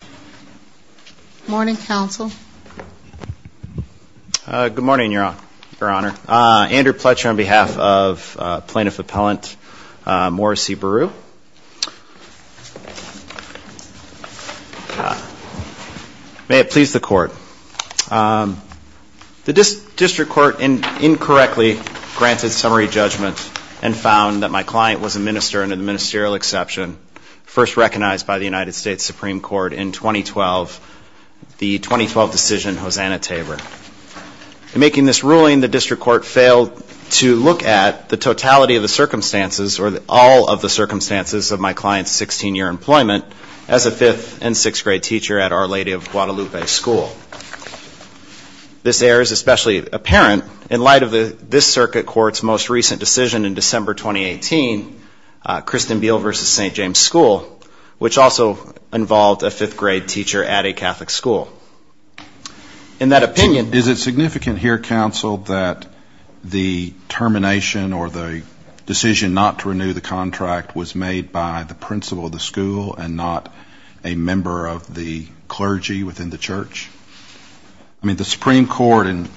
Good morning, Council. Good morning, Your Honor. Andrew Pletcher on behalf of Plaintiff Appellant Morrissey-Berru. May it please the Court. The District Court incorrectly granted summary judgment and found that my client was a minister under the ministerial exception first recognized by the United States Supreme Court in 2012. The 2012 decision, Hosanna Tabor. In making this ruling, the District Court failed to look at the totality of the circumstances or all of the circumstances of my client's 16-year employment as a 5th and 6th grade teacher at Our Lady of Guadalupe School. This error is especially apparent in light of this Circuit Court's most recent decision in December 2018, Kristen Beal v. St. James School, which also involved a 5th grade teacher at a Catholic school. In that opinion... Is it significant here, Council, that the termination or the decision not to renew the contract was made by the principal of the school and not a member of the clergy within the church? I mean, the Supreme Court in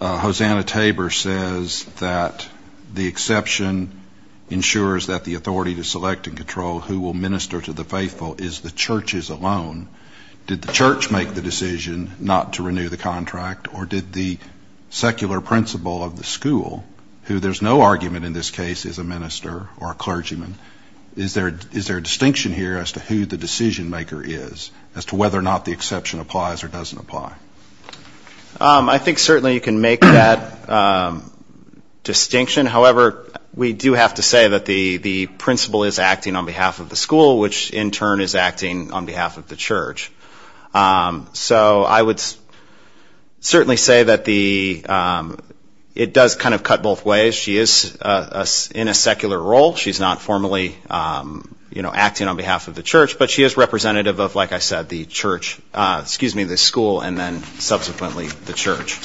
Hosanna Tabor says that the exception ensures that the authority to select and control who will minister to the faithful is the churches alone. Did the church make the decision not to renew the contract, or did the secular principal of the school, who there's no argument in this case is a minister or a clergyman, is there a distinction here as to who the decision-maker is, as to whether or not the exception applies or doesn't apply? I think certainly you can make that distinction. However, we do have to say that the principal is acting on behalf of the school, which in turn is acting on behalf of the church. So I would certainly say that it does kind of cut both ways. She is in a secular role. She's not formally acting on behalf of the church, but she is representative of, like I said, the school and then subsequently the church.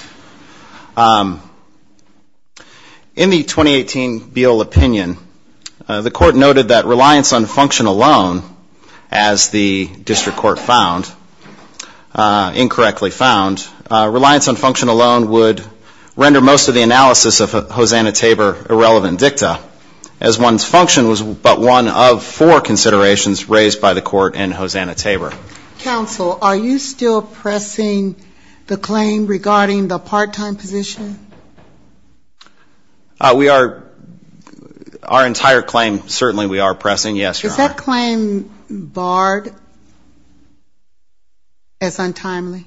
In the 2018 Beall opinion, the court noted that reliance on function alone, as the district court found, incorrectly found, reliance on function alone would render most of the analysis of Hosanna-Tabor irrelevant dicta, as one's function was but one of four considerations raised by the court in Hosanna-Tabor. Counsel, are you still pressing the claim regarding the part-time position? We are, our entire claim certainly we are pressing, yes, Your Honor. Is that claim barred as untimely?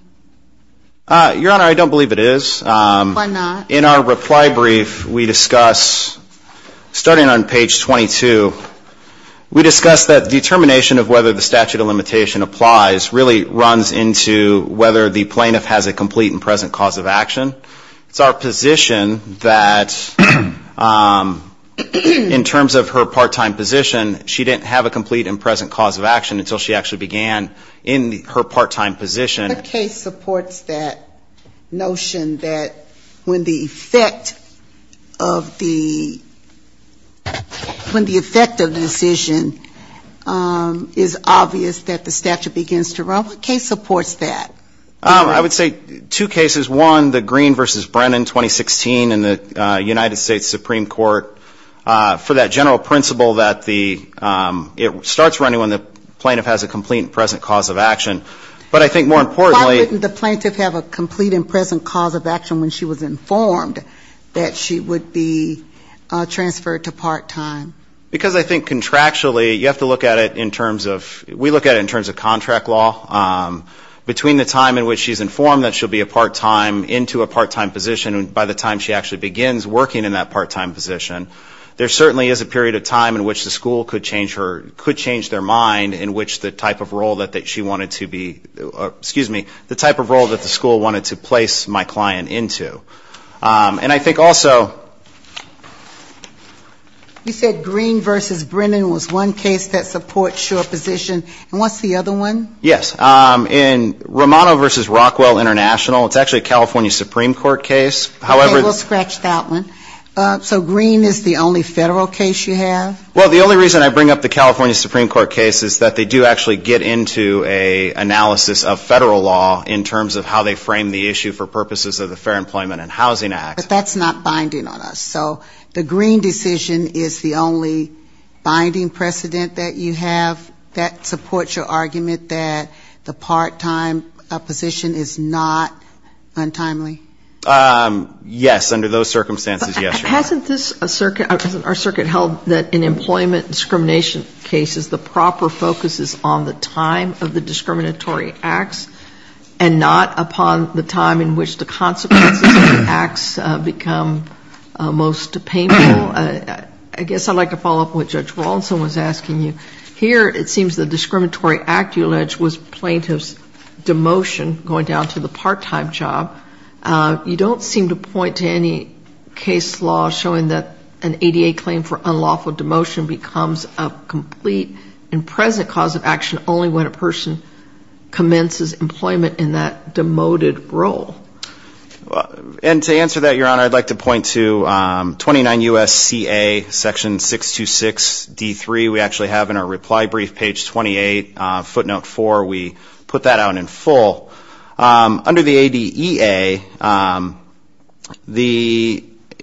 Your Honor, I don't believe it is. Why not? In our reply brief, we discuss, starting on page 22, we discuss that determination of whether the statute of limitation applies really runs into whether the plaintiff has a complete and present cause of action. It's our position that in terms of her part-time position, she didn't have a complete and present cause of action until she actually began in her part-time position. What case supports that notion that when the effect of the decision is obvious that the statute begins to run? What case supports that? I would say two cases. One, the Green v. Brennan, 2016 in the United States Supreme Court, for that general principle that it starts running when the plaintiff has a complete and present cause of action. But I think more importantly the plaintiff has a complete and present cause of action when she was informed that she would be transferred to part-time. Because I think contractually, you have to look at it in terms of, we look at it in terms of contract law. Between the time in which she's informed that she'll be a part-time into a part-time position and by the time she actually begins working in that part-time position, there certainly is a period of time in which the school could change her, could change their mind in which the type of role that she wanted to be, excuse me, the type of role that the school wanted to place my client into. And I think also. You said Green v. Brennan was one case that supports your position. And what's the other one? Yes. In Romano v. Rockwell International, it's actually a California Supreme Court case. Okay. We'll scratch that one. So Green is the only federal case you have? Well, the only reason I bring up the California Supreme Court case is that they do actually get into an analysis of federal law in terms of how they frame the issue for purposes of the Fair Employment and Housing Act. But that's not binding on us. So the Green decision is the only binding precedent that you have that supports your argument that the part-time position is not untimely? Yes, under those circumstances, yes. Hasn't this circuit held that in employment discrimination cases, the proper focus is on the time of the discriminatory acts and not upon the time in which the consequences of the acts become most painful? I guess I'd like to follow up on what Judge Rawlinson was asking you. Here it seems the discriminatory act you allege was plaintiff's demotion going down to the part-time job. You don't seem to point to any case law showing that an ADA claim for unlawful demotion becomes a complete and present cause of action only when a person commences employment in that demoted role. And to answer that, Your Honor, I'd like to point to 29 U.S.C.A., Section 626D3. We actually have in our reply brief, page 28, footnote 4, we put that out in full. Under the ADEA,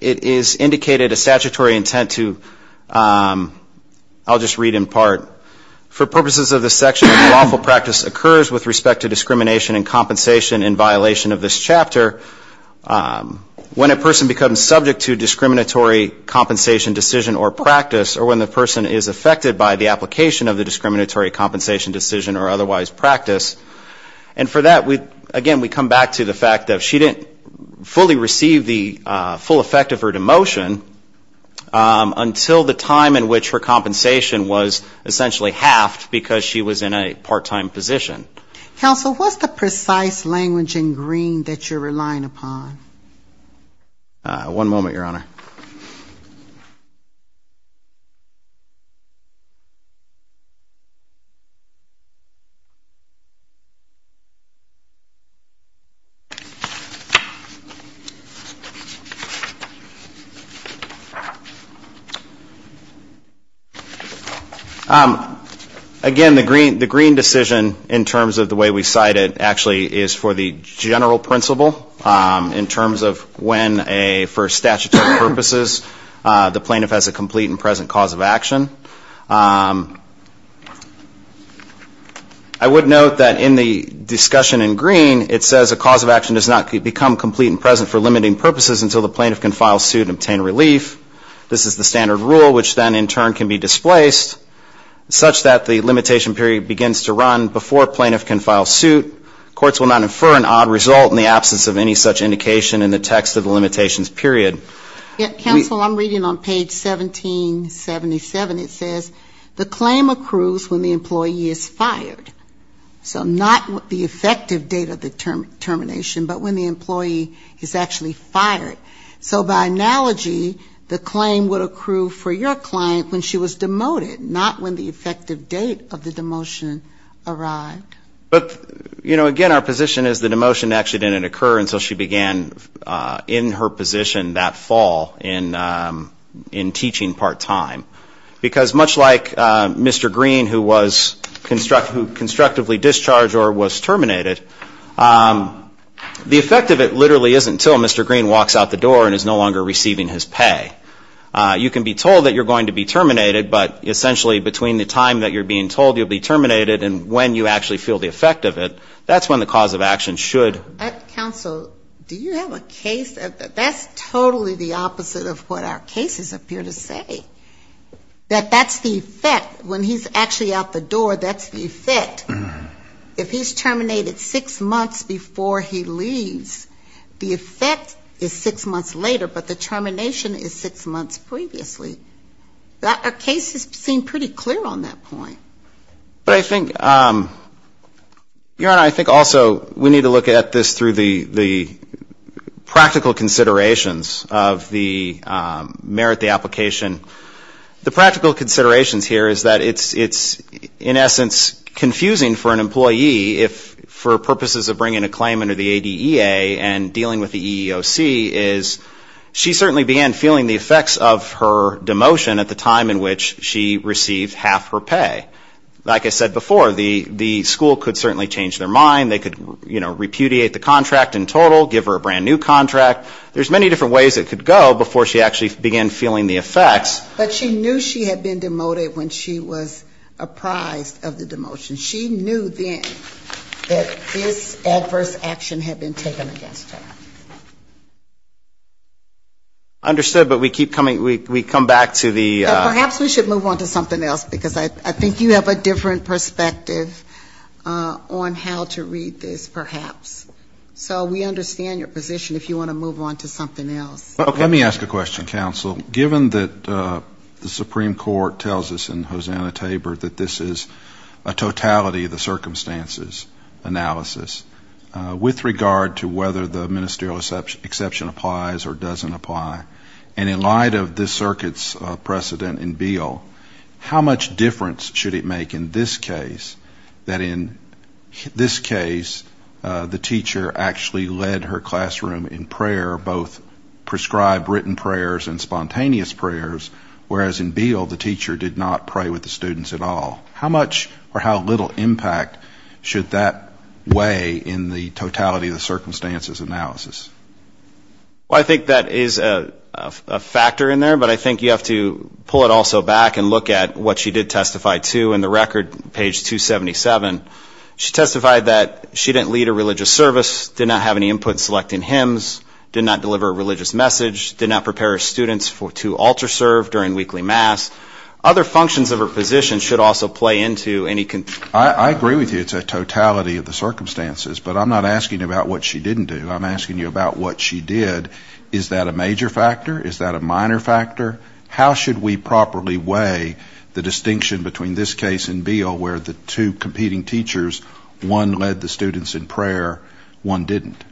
it is indicated a statutory intent to, I'll just read in part. For purposes of this section, unlawful practice occurs with respect to discrimination and compensation in violation of this chapter when a person becomes subject to discriminatory compensation decision or practice or when the person is affected by the application of the discriminatory compensation decision or otherwise practiced. And for that, again, we come back to the fact that she didn't fully receive the full effect of her demotion until the time in which her compensation was essentially halved because she was in a part-time position. Counsel, what's the precise language in green that you're relying upon? One moment, Your Honor. Again, the green decision in terms of the way we cite it actually is for the general principle in terms of when a, for statutory purposes, the plaintiff has a complete and present cause of action. I would note that in the discussion in green, it says a cause of action does not become complete and present for limiting purposes until the plaintiff can file suit and obtain relief. This is the standard rule, which then in turn can be displaced such that the limitation period begins to run before plaintiff can file suit. Courts will not infer an odd result in the absence of any such indication in the text of the limitations period. Counsel, I'm reading on page 1777. It says the claim accrues when the employee is fired. So not the effective date of the termination, but when the employee is actually fired. So by analogy, the claim would accrue for your client when she was demoted, not when the effective date of the demotion arrived. But again, our position is that demotion actually didn't occur until she began in her position that fall in teaching part-time. Because much like Mr. Green, who was constructively discharged or was terminated, the effective date literally isn't until Mr. Green walks out the door and is no longer receiving his pay. You can be told that you're going to be terminated, but essentially between the time that you're being told you'll be terminated and when you actually feel the effect of it, that's when the cause of action should occur. Counsel, do you have a case? That's totally the opposite of what our cases appear to say. That that's the effect. When he's actually out the door, that's the effect. If he's terminated six months before he leaves, the effect is six months later, but the effect is six months later. But I think, Your Honor, I think also we need to look at this through the practical considerations of the merit of the application. The practical considerations here is that it's in essence confusing for an employee if for purposes of bringing a claim under the ADEA and dealing with the EEOC is she certainly began feeling the effects of her demotion at the time in which she received half her pay. Like I said before, the school could certainly change their mind. They could, you know, repudiate the contract in total, give her a brand-new contract. There's many different ways it could go before she actually began feeling the effects. But she knew she had been demoted when she was apprised of the demotion. She knew then that this adverse action had been taken against her. I understand, but we keep coming, we come back to the... Perhaps we should move on to something else, because I think you have a different perspective on how to read this, perhaps. So we understand your position if you want to move on to something else. Let me ask a question, counsel. Given that the Supreme Court tells us in Hosanna-Tabor that this is a totality of the circumstances analysis, whether a serial exception applies or doesn't apply, and in light of this circuit's precedent in Beale, how much difference should it make in this case that in this case the teacher actually led her classroom in prayer, both prescribed written prayers and spontaneous prayers, whereas in Beale the teacher did not pray with the students at all? How much or how little impact should that weigh in the totality of the circumstances analysis? Well, I think that is a factor in there, but I think you have to pull it also back and look at what she did testify to in the record, page 277. She testified that she didn't lead a religious service, did not have any input in selecting hymns, did not deliver a religious message, did not prepare her students to alter serve during weekly mass. Other functions of her position should also play into any... I agree with you it's a totality of the circumstances, but I'm not asking you about what she didn't do. I'm asking you about what she did. Is that a major factor? Is that a minor factor? How should we properly weigh the distinction between this case in Beale, where the two competing teachers, one led the students in prayer, one didn't?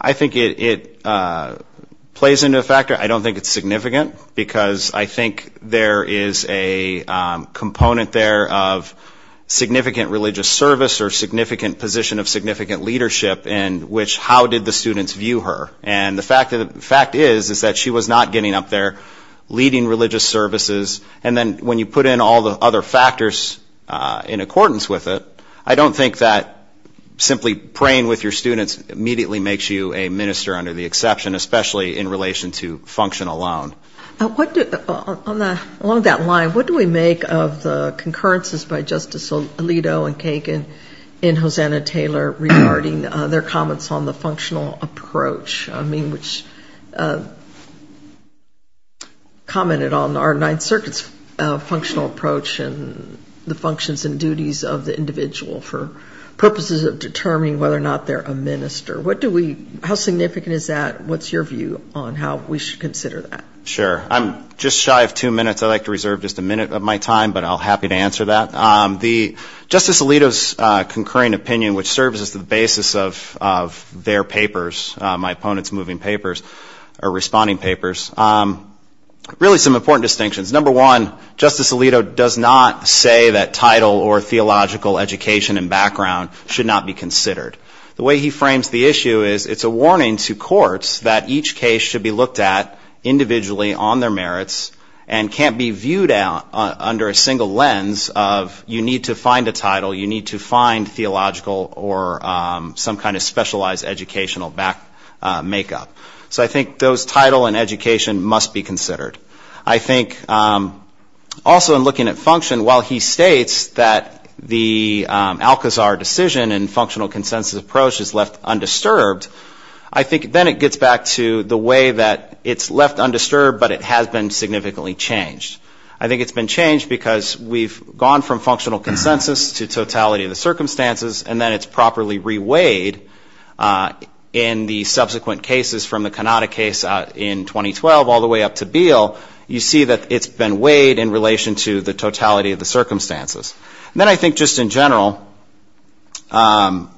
I think it plays into a factor. I don't think it's significant, because I think there is a component there of, you know, the significant religious service or significant position of significant leadership in which how did the students view her. And the fact is that she was not getting up there leading religious services. And then when you put in all the other factors in accordance with it, I don't think that simply praying with your students immediately makes you a minister under the exception, especially in relation to function alone. Along that line, what do we make of the concurrences by Justice Alito and Kagan and Hosanna Taylor regarding their comments on the functional approach? I mean, which commented on our Ninth Circuit's functional approach and the functions and duties of the individual for purposes of determining whether or not they're a minister. How significant is that? What's your view on how we should consider that? Sure. I'm just shy of two minutes. I'd like to reserve just a minute of my time, but I'll be happy to answer that. Justice Alito's concurring opinion, which serves as the basis of their papers, my opponent's moving papers, or responding papers, really some important distinctions. Number one, Justice Alito does not say that title or theological education and background should not be considered. The way he frames the issue is it's a warning to courts that each case should be looked at individually and on their merits and can't be viewed under a single lens of you need to find a title, you need to find theological or some kind of specialized educational makeup. So I think those title and education must be considered. I think also in looking at function, while he states that the Alcazar decision and functional consensus approach is left undisturbed, I think then it gets back to the way that it's left undisturbed, but it's left undisturbed. But it has been significantly changed. I think it's been changed because we've gone from functional consensus to totality of the circumstances, and then it's properly reweighed in the subsequent cases from the Kanada case in 2012 all the way up to Beale. You see that it's been weighed in relation to the totality of the circumstances. Then I think just in general,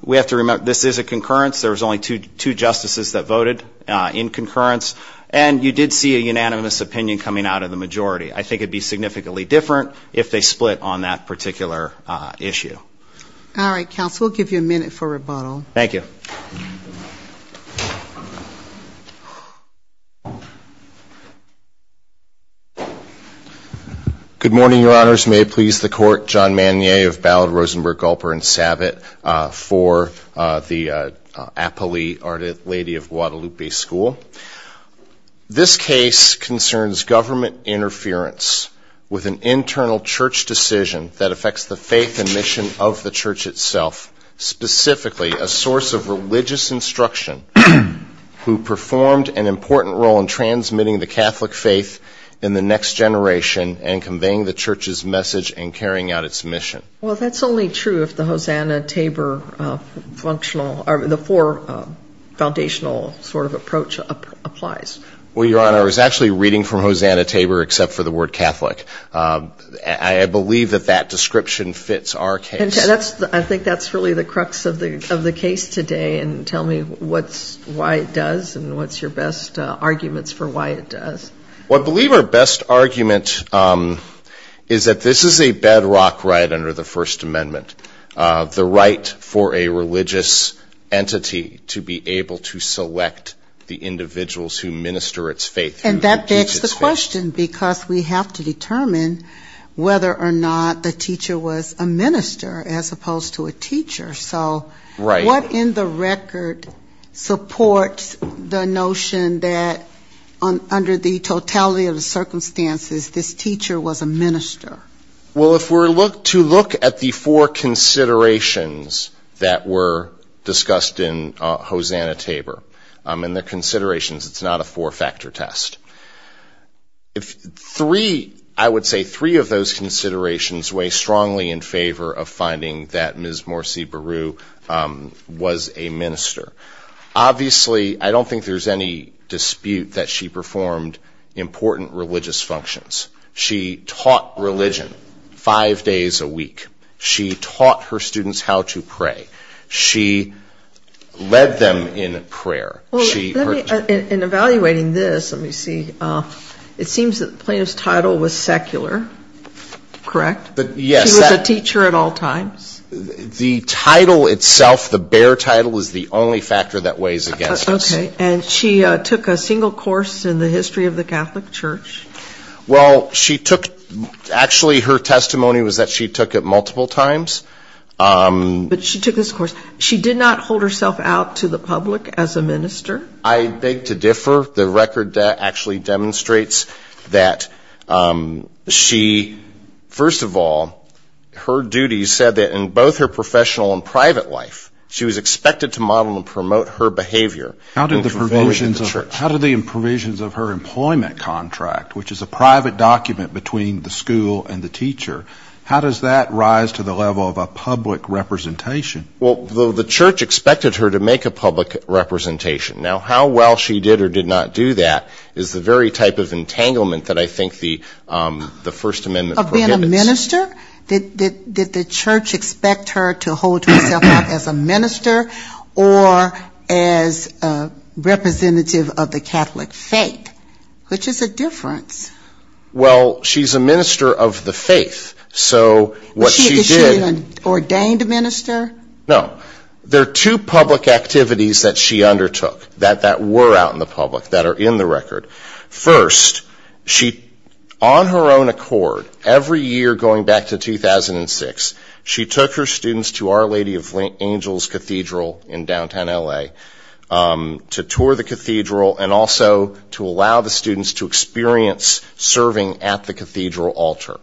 we have to remember this is a concurrence. There was only two justices that voted in concurrence. And you did see a unanimous opinion coming out of the majority. I think it would be significantly different if they split on that particular issue. Good morning, Your Honors. May it please the Court, John Manier of Ballard, Rosenberg, Gulper, and Savitt for the Apolli Lady of Guadalupe School. This case concerns government interference with an internal church decision that affects the faith and mission of the church itself, specifically a source of religious instruction who performed an important role in transmitting the Catholic faith in the next generation and conveying the church's message and carrying out its mission. Well, that's only true if the Hosanna-Tabor functional, the four foundational sort of approaches are met. Well, Your Honor, I was actually reading from Hosanna-Tabor except for the word Catholic. I believe that that description fits our case. And I think that's really the crux of the case today. And tell me why it does and what's your best arguments for why it does. Well, I believe our best argument is that this is a bedrock right under the First Amendment, the right for a religious entity to be able to minister its faith. And that begs the question, because we have to determine whether or not the teacher was a minister as opposed to a teacher. So what in the record supports the notion that under the totality of the circumstances this teacher was a minister? Well, if we're to look at the four considerations that were discussed in Hosanna-Tabor, in the context of the four considerations, it's not a four-factor test. Three, I would say three of those considerations weigh strongly in favor of finding that Ms. Morsi Beru was a minister. Obviously, I don't think there's any dispute that she performed important religious functions. She taught religion five days a week. She taught her students how to pray. She led them in prayer. In evaluating this, let me see, it seems that the plaintiff's title was secular, correct? She was a teacher at all times? The title itself, the bare title, is the only factor that weighs against us. Okay. And she took a single course in the history of the Catholic Church? Well, she took, actually her testimony was that she took it multiple times. She did not hold herself out to the public as a minister? I beg to differ. The record actually demonstrates that she, first of all, her duties said that in both her professional and private life, she was expected to model and promote her behavior. How did the provisions of her employment contract, which is a private document between the school and the teacher, how does that rise to the level of a public representation? Well, the church expected her to make a public representation. Now, how well she did or did not do that is the very type of entanglement that I think the First Amendment prohibits. Of being a minister? Did the church expect her to hold herself out as a minister or as a representative of the Catholic faith? Which is a difference. Well, she's a minister of the faith. Is she an ordained minister? No. There are two public activities that she undertook that were out in the public, that are in the record. First, on her own accord, every year going back to 2006, she took her students to Our Lady of Angels Cathedral in downtown L.A. to tour the cathedral and also to allow the students to experience serving at the cathedral altar.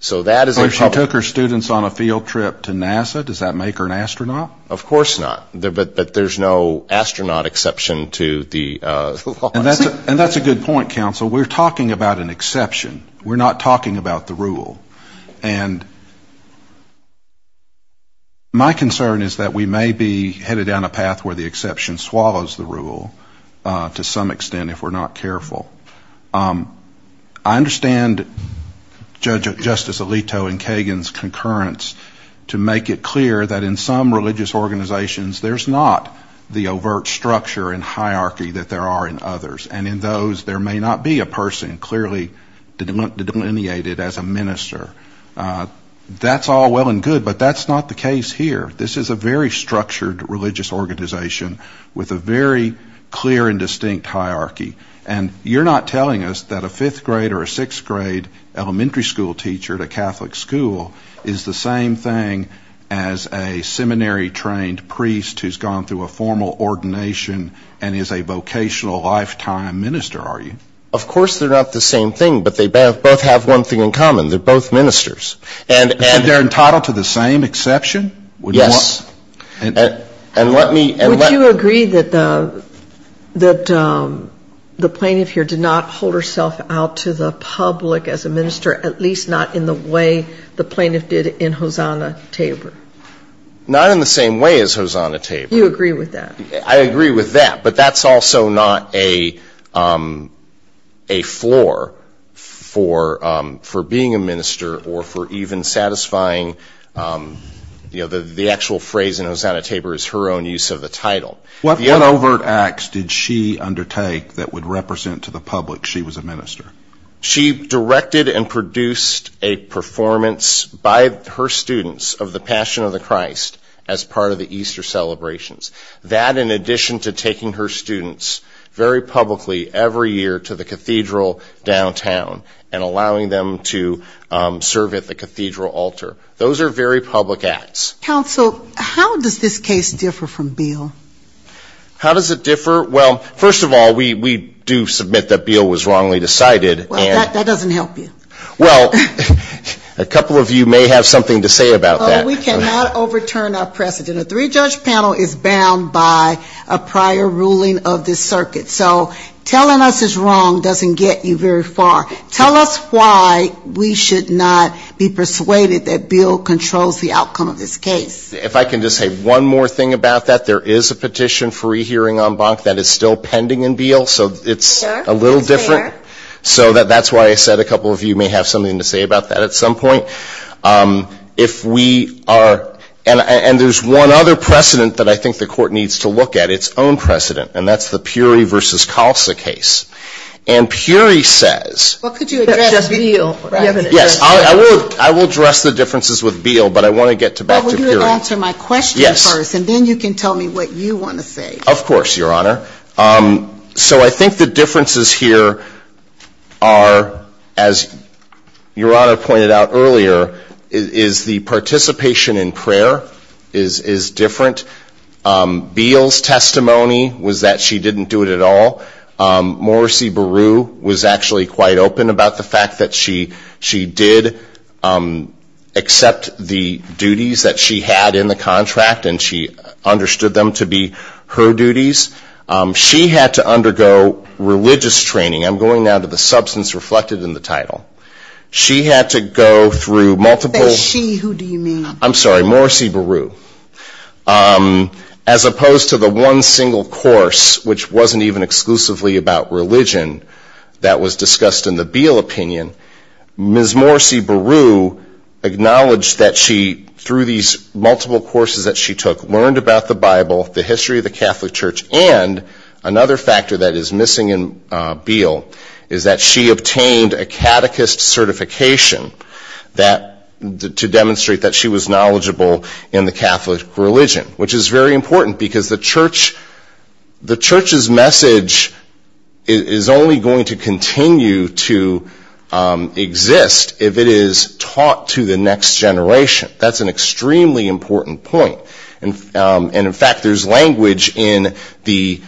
So if she took her students on a field trip to NASA, does that make her an astronaut? Of course not. But there's no astronaut exception to the law. And that's a good point, counsel. We're talking about an exception. We're not talking about the rule. And my concern is that we may be headed down a path where the exception swallows the rule to some extent if we're not careful. I understand Justice Alito and Kagan's concurrence to make it clear that in some religious organizations, there's not the overt structure and hierarchy that there are in others. And in those, there may not be a person clearly delineated as a minister. That's all well and good, but that's not the case here. This is a very structured religious organization with a very clear and distinct hierarchy. And you're not telling us that a fifth grade or a sixth grade elementary school teacher at a Catholic school is the same thing as a seminary-trained priest who's gone through a formal ordination and is a vocational lifetime minister, are you? Of course they're not the same thing, but they both have one thing in common. They're both ministers. And they're entitled to the same exception? Yes. Would you agree that the plaintiff here did not hold herself out to the public as a minister, at least not in the way the plaintiff did in Hosanna Tabor? Not in the same way as Hosanna Tabor. You agree with that? I agree with that, but that's also not a floor for being a minister or for even satisfying the actual phrase in Hosanna Tabor is her own use of the title. What overt acts did she undertake that would represent to the public she was a minister? She directed and produced a performance by her students of the Passion of the Christ as part of the Easter celebrations. That in addition to taking her students very publicly every year to the cathedral downtown and allowing them to serve at the cathedral altar. Those are very public acts. Counsel, how does this case differ from Beale? How does it differ? Well, first of all, we do submit that Beale was wrongly decided. Well, that doesn't help you. Well, a couple of you may have something to say about that. We cannot overturn our precedent. A three-judge panel is bound by a prior ruling of the circuit. So telling us it's wrong doesn't get you very far. Tell us why we should not be persuaded that Beale controls the outcome of this case. If I can just say one more thing about that, there is a petition for rehearing en banc that is still pending in Beale, so it's a little different. So that's why I said a couple of you may have something to say about that at some point. And there's one other precedent that I think the court needs to look at, its own precedent, and that's the Puri v. Calsa case. And Puri says... Well, could you address Beale? Yes, I will address the differences with Beale, but I want to get back to Puri. I'll answer my question first, and then you can tell me what you want to say. Of course, Your Honor. So I think the differences here are, as Your Honor pointed out earlier, is the participation in prayer is different. Beale's testimony was that she didn't do it at all. Morrissey Beru was actually quite open about the fact that she did accept the duties that she had. She got in the contract, and she understood them to be her duties. She had to undergo religious training. I'm going now to the substance reflected in the title. She had to go through multiple... If I say she, who do you mean? I'm sorry, Morrissey Beru. As opposed to the one single course, which wasn't even exclusively about religion that was discussed in the Beale opinion, Ms. Morrissey Beru acknowledged that she, through these multiple courses that she took, learned about the Bible, the history of the Catholic Church, and another factor that is missing in Beale is that she obtained a catechist certification to demonstrate that she was knowledgeable in the Catholic religion, which is very important, because the church's message is only going to continue to be about the Catholic Church. It's not going to exist if it is taught to the next generation. That's an extremely important point. And in fact, there's language in the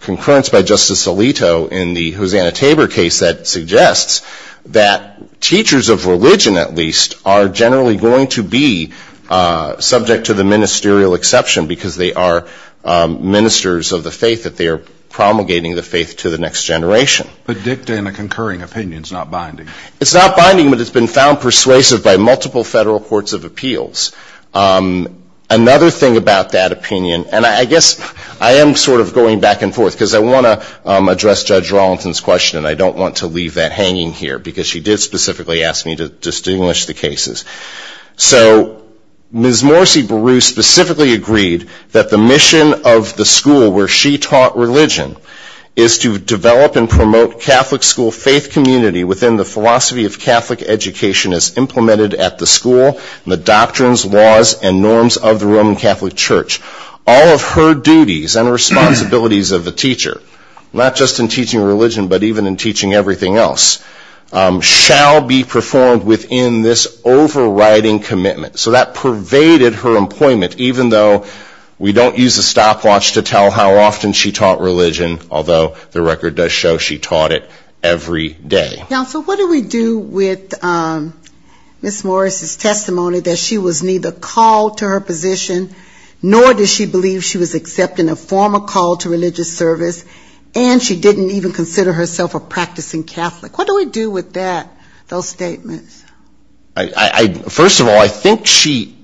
concurrence by Justice Alito in the Hosanna-Tabor case that suggests that teachers of religion, at least, are generally going to be subject to the ministerial exception, because they are ministers of the faith, that they are promulgating the faith to the next generation. But dicta in a concurring opinion is not binding. It's not binding, but it's been found persuasive by multiple federal courts of appeals. Another thing about that opinion, and I guess I am sort of going back and forth, because I want to address Judge Rollinson's question, and I don't want to leave that hanging here, because she did specifically ask me to distinguish the cases. So, Ms. Morrissey Beru specifically agreed that the mission of the school where she taught religion is to develop and promote religious education, promote Catholic school faith community within the philosophy of Catholic education as implemented at the school, and the doctrines, laws, and norms of the Roman Catholic Church. All of her duties and responsibilities of the teacher, not just in teaching religion, but even in teaching everything else, shall be performed within this overriding commitment. So that pervaded her employment, even though we don't use a stopwatch to tell how often she taught religion, although the record does show she taught at least three times. And she taught it every day. Counsel, what do we do with Ms. Morrissey's testimony that she was neither called to her position, nor does she believe she was accepting a former call to religious service, and she didn't even consider herself a practicing Catholic? What do we do with that, those statements? First of all, I think she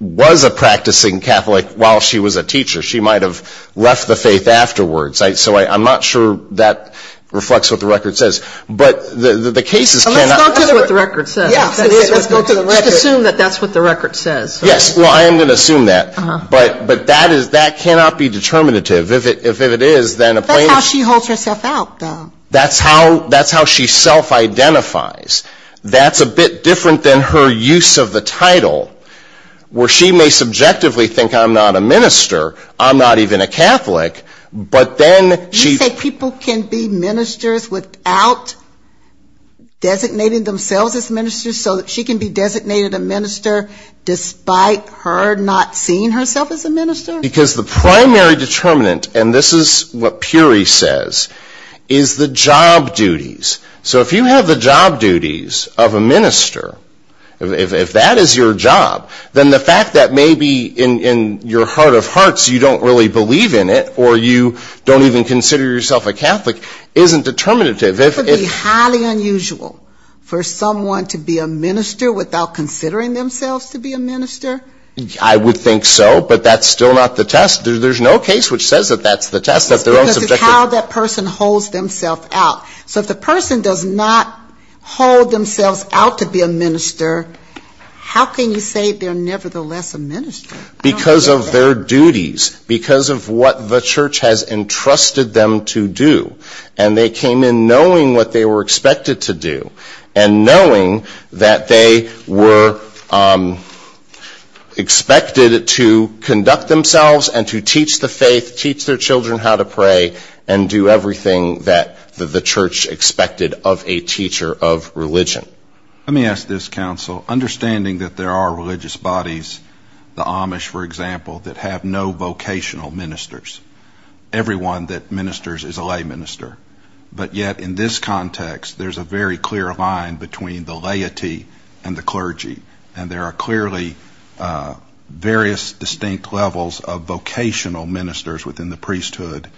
was a practicing Catholic while she was a teacher. She might have left the faith afterwards. So I'm not sure that reflects what the record says. Let's assume that that's what the record says. Yes, well, I am going to assume that. But that cannot be determinative. That's how she holds herself out, though. That's how she self-identifies. That's a bit different than her use of the title, where she may subjectively think, I'm not a minister, I'm not even a Catholic, but that's what the record says. You say people can be ministers without designating themselves as ministers, so that she can be designated a minister despite her not seeing herself as a minister? Because the primary determinant, and this is what Puri says, is the job duties. So if you have the job duties of a minister, if that is your job, then the fact that maybe in your heart of hearts you don't really believe in it, or you don't even want to believe in it, that's a different thing. And the fact that you don't even consider yourself a Catholic isn't determinative. It would be highly unusual for someone to be a minister without considering themselves to be a minister. I would think so, but that's still not the test. There's no case which says that that's the test. Because it's how that person holds themselves out. So if the person does not hold themselves out to be a minister, how can you say they're nevertheless a minister? Because of their duties, because of what the church has entrusted them to do. And they came in knowing what they were expected to do, and knowing that they were expected to conduct themselves and to teach the faith, teach their children how to pray, and do everything that the church expected of a teacher of religion. Let me ask this, counsel. Understanding that there are religious bodies, the Amish, for example, that have no vocational ministers, everyone that ministers is a lay minister. But yet in this context, there's a very clear line between the laity and the clergy. And there are clearly various distinct levels of vocational ministers within the priesthood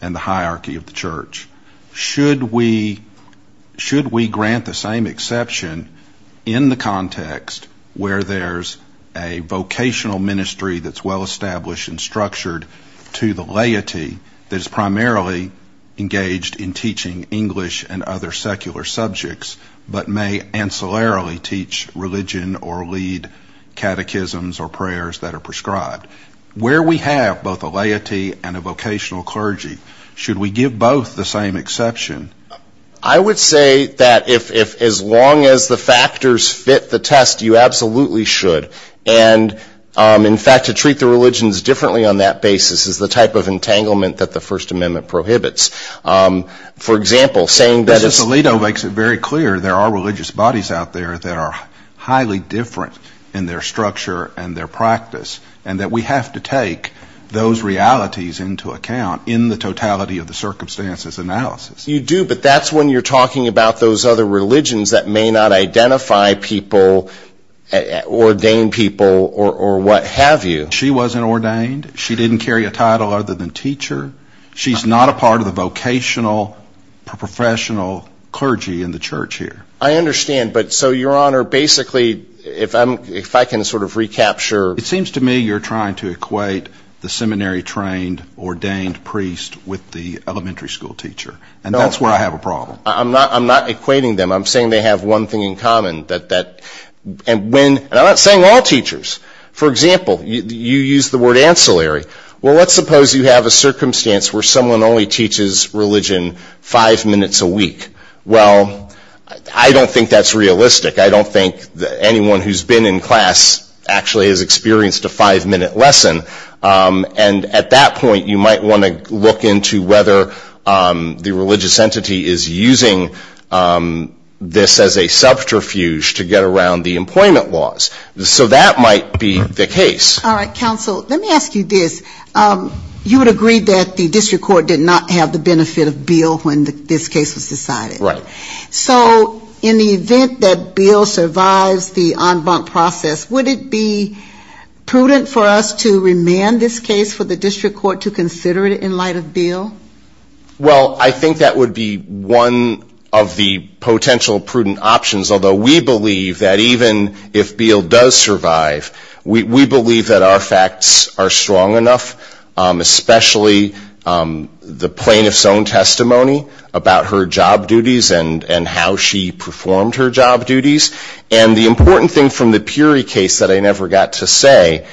and the hierarchy of the church. Should we grant the same exception in the context where there's a vocational ministry that's well-established and structured to the laity that is primarily engaged in teaching English and other secular subjects, but may ancillarily teach religion or lead catechisms or prayers that are prescribed? Where we have both a laity and a vocational clergy, should we give both the same exception? I would say that if as long as the factors fit the test, you absolutely should. And in fact, to treat the religions differently on that basis is the type of entanglement that the First Amendment prohibits. For example, saying that it's... There are religious bodies out there that are highly different in their structure and their practice, and that we have to take those realities into account in the totality of the circumstances analysis. You do, but that's when you're talking about those other religions that may not identify people, ordain people, or what have you. She wasn't ordained. She didn't carry a title other than teacher. She's not a part of the vocational professional clergy in the church here. I understand, but so, Your Honor, basically, if I can sort of recapture... It seems to me you're trying to equate the seminary-trained, ordained priest with the elementary school teacher, and that's where I have a problem. I'm not equating them. I'm saying they have one thing in common. And I'm not saying all teachers. For example, you use the word ancillary. Well, let's suppose you have a circumstance where someone only teaches religion five minutes a week. Well, I don't think that's realistic. I don't think anyone who's been in class actually has experienced a five-minute lesson. And at that point, you might want to look into whether the religious entity is using this as a subterfuge to get around the employment laws. That might be the case. All right, counsel, let me ask you this. You would agree that the district court did not have the benefit of Beale when this case was decided. Right. So in the event that Beale survives the en banc process, would it be prudent for us to remand this case for the district court to consider it in light of Beale? Well, I think that would be one of the potential prudent options, although we believe that even if Beale does survive, we believe that our facts are strong enough, especially the plaintiff's own testimony about her job duties and how she performed her job duties. And the important thing from the Puri case that I never got to say,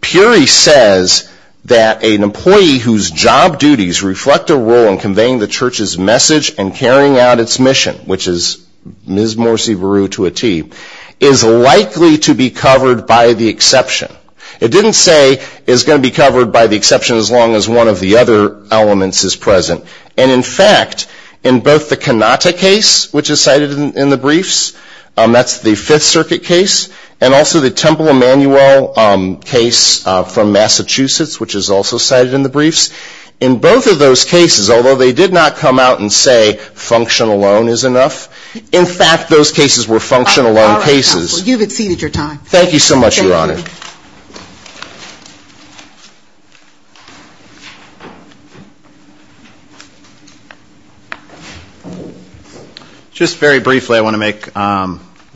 Puri says that an employee whose job duties reflect a role in conveying the church's message and carrying out its mission, which is Ms. Morsi Beru to a T, is likely to be covered by the exception. It didn't say it's going to be covered by the exception as long as one of the other elements is present. And in fact, in both the Cannata case, which is cited in the briefs, that's the Fifth Circuit case, and also the Temple Emanuel case from Massachusetts, which is also cited in the briefs. In both of those cases, although they did not come out and say function alone is enough, in fact those cases were function alone cases. Thank you so much, Your Honor. Just very briefly, I want to make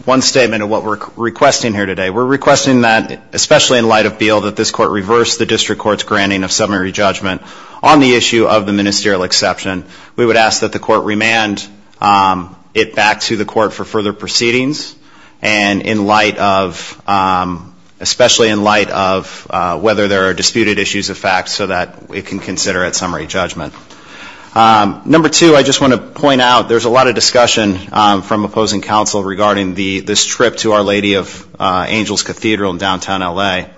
one statement of what we're requesting here today. We're requesting that, especially in light of Beale, that this Court reverse the District Court's granting of summary judgment on the issue of the ministerial exception. We would ask that the Court remand it back to the Court for further proceedings, and especially in light of whether there are disputed issues of fact so that it can consider a summary judgment. Number two, I just want to point out there's a lot of discussion from opposing counsel regarding this trip to Our Lady of Angels Cathedral in downtown L.A.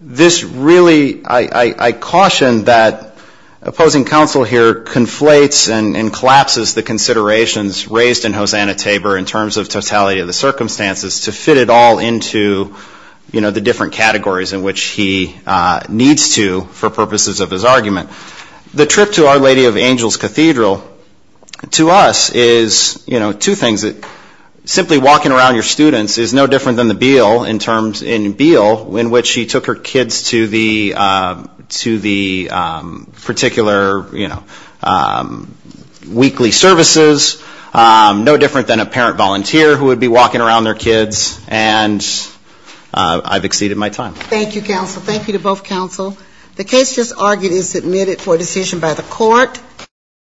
This really, I caution that opposing counsel here conflates and collapses the considerations raised in Hosanna Tabor in terms of totality of the case. This is a trip to Our Lady of Angels Cathedral to fit it all into the different categories in which he needs to for purposes of his argument. The trip to Our Lady of Angels Cathedral, to us, is two things. Simply walking around your students is no different than the Beale in which she took her kids to the particular weekly services. No different than a parent volunteer who would be walking around their kids, and I've exceeded my time. Thank you, counsel. Thank you to both counsel.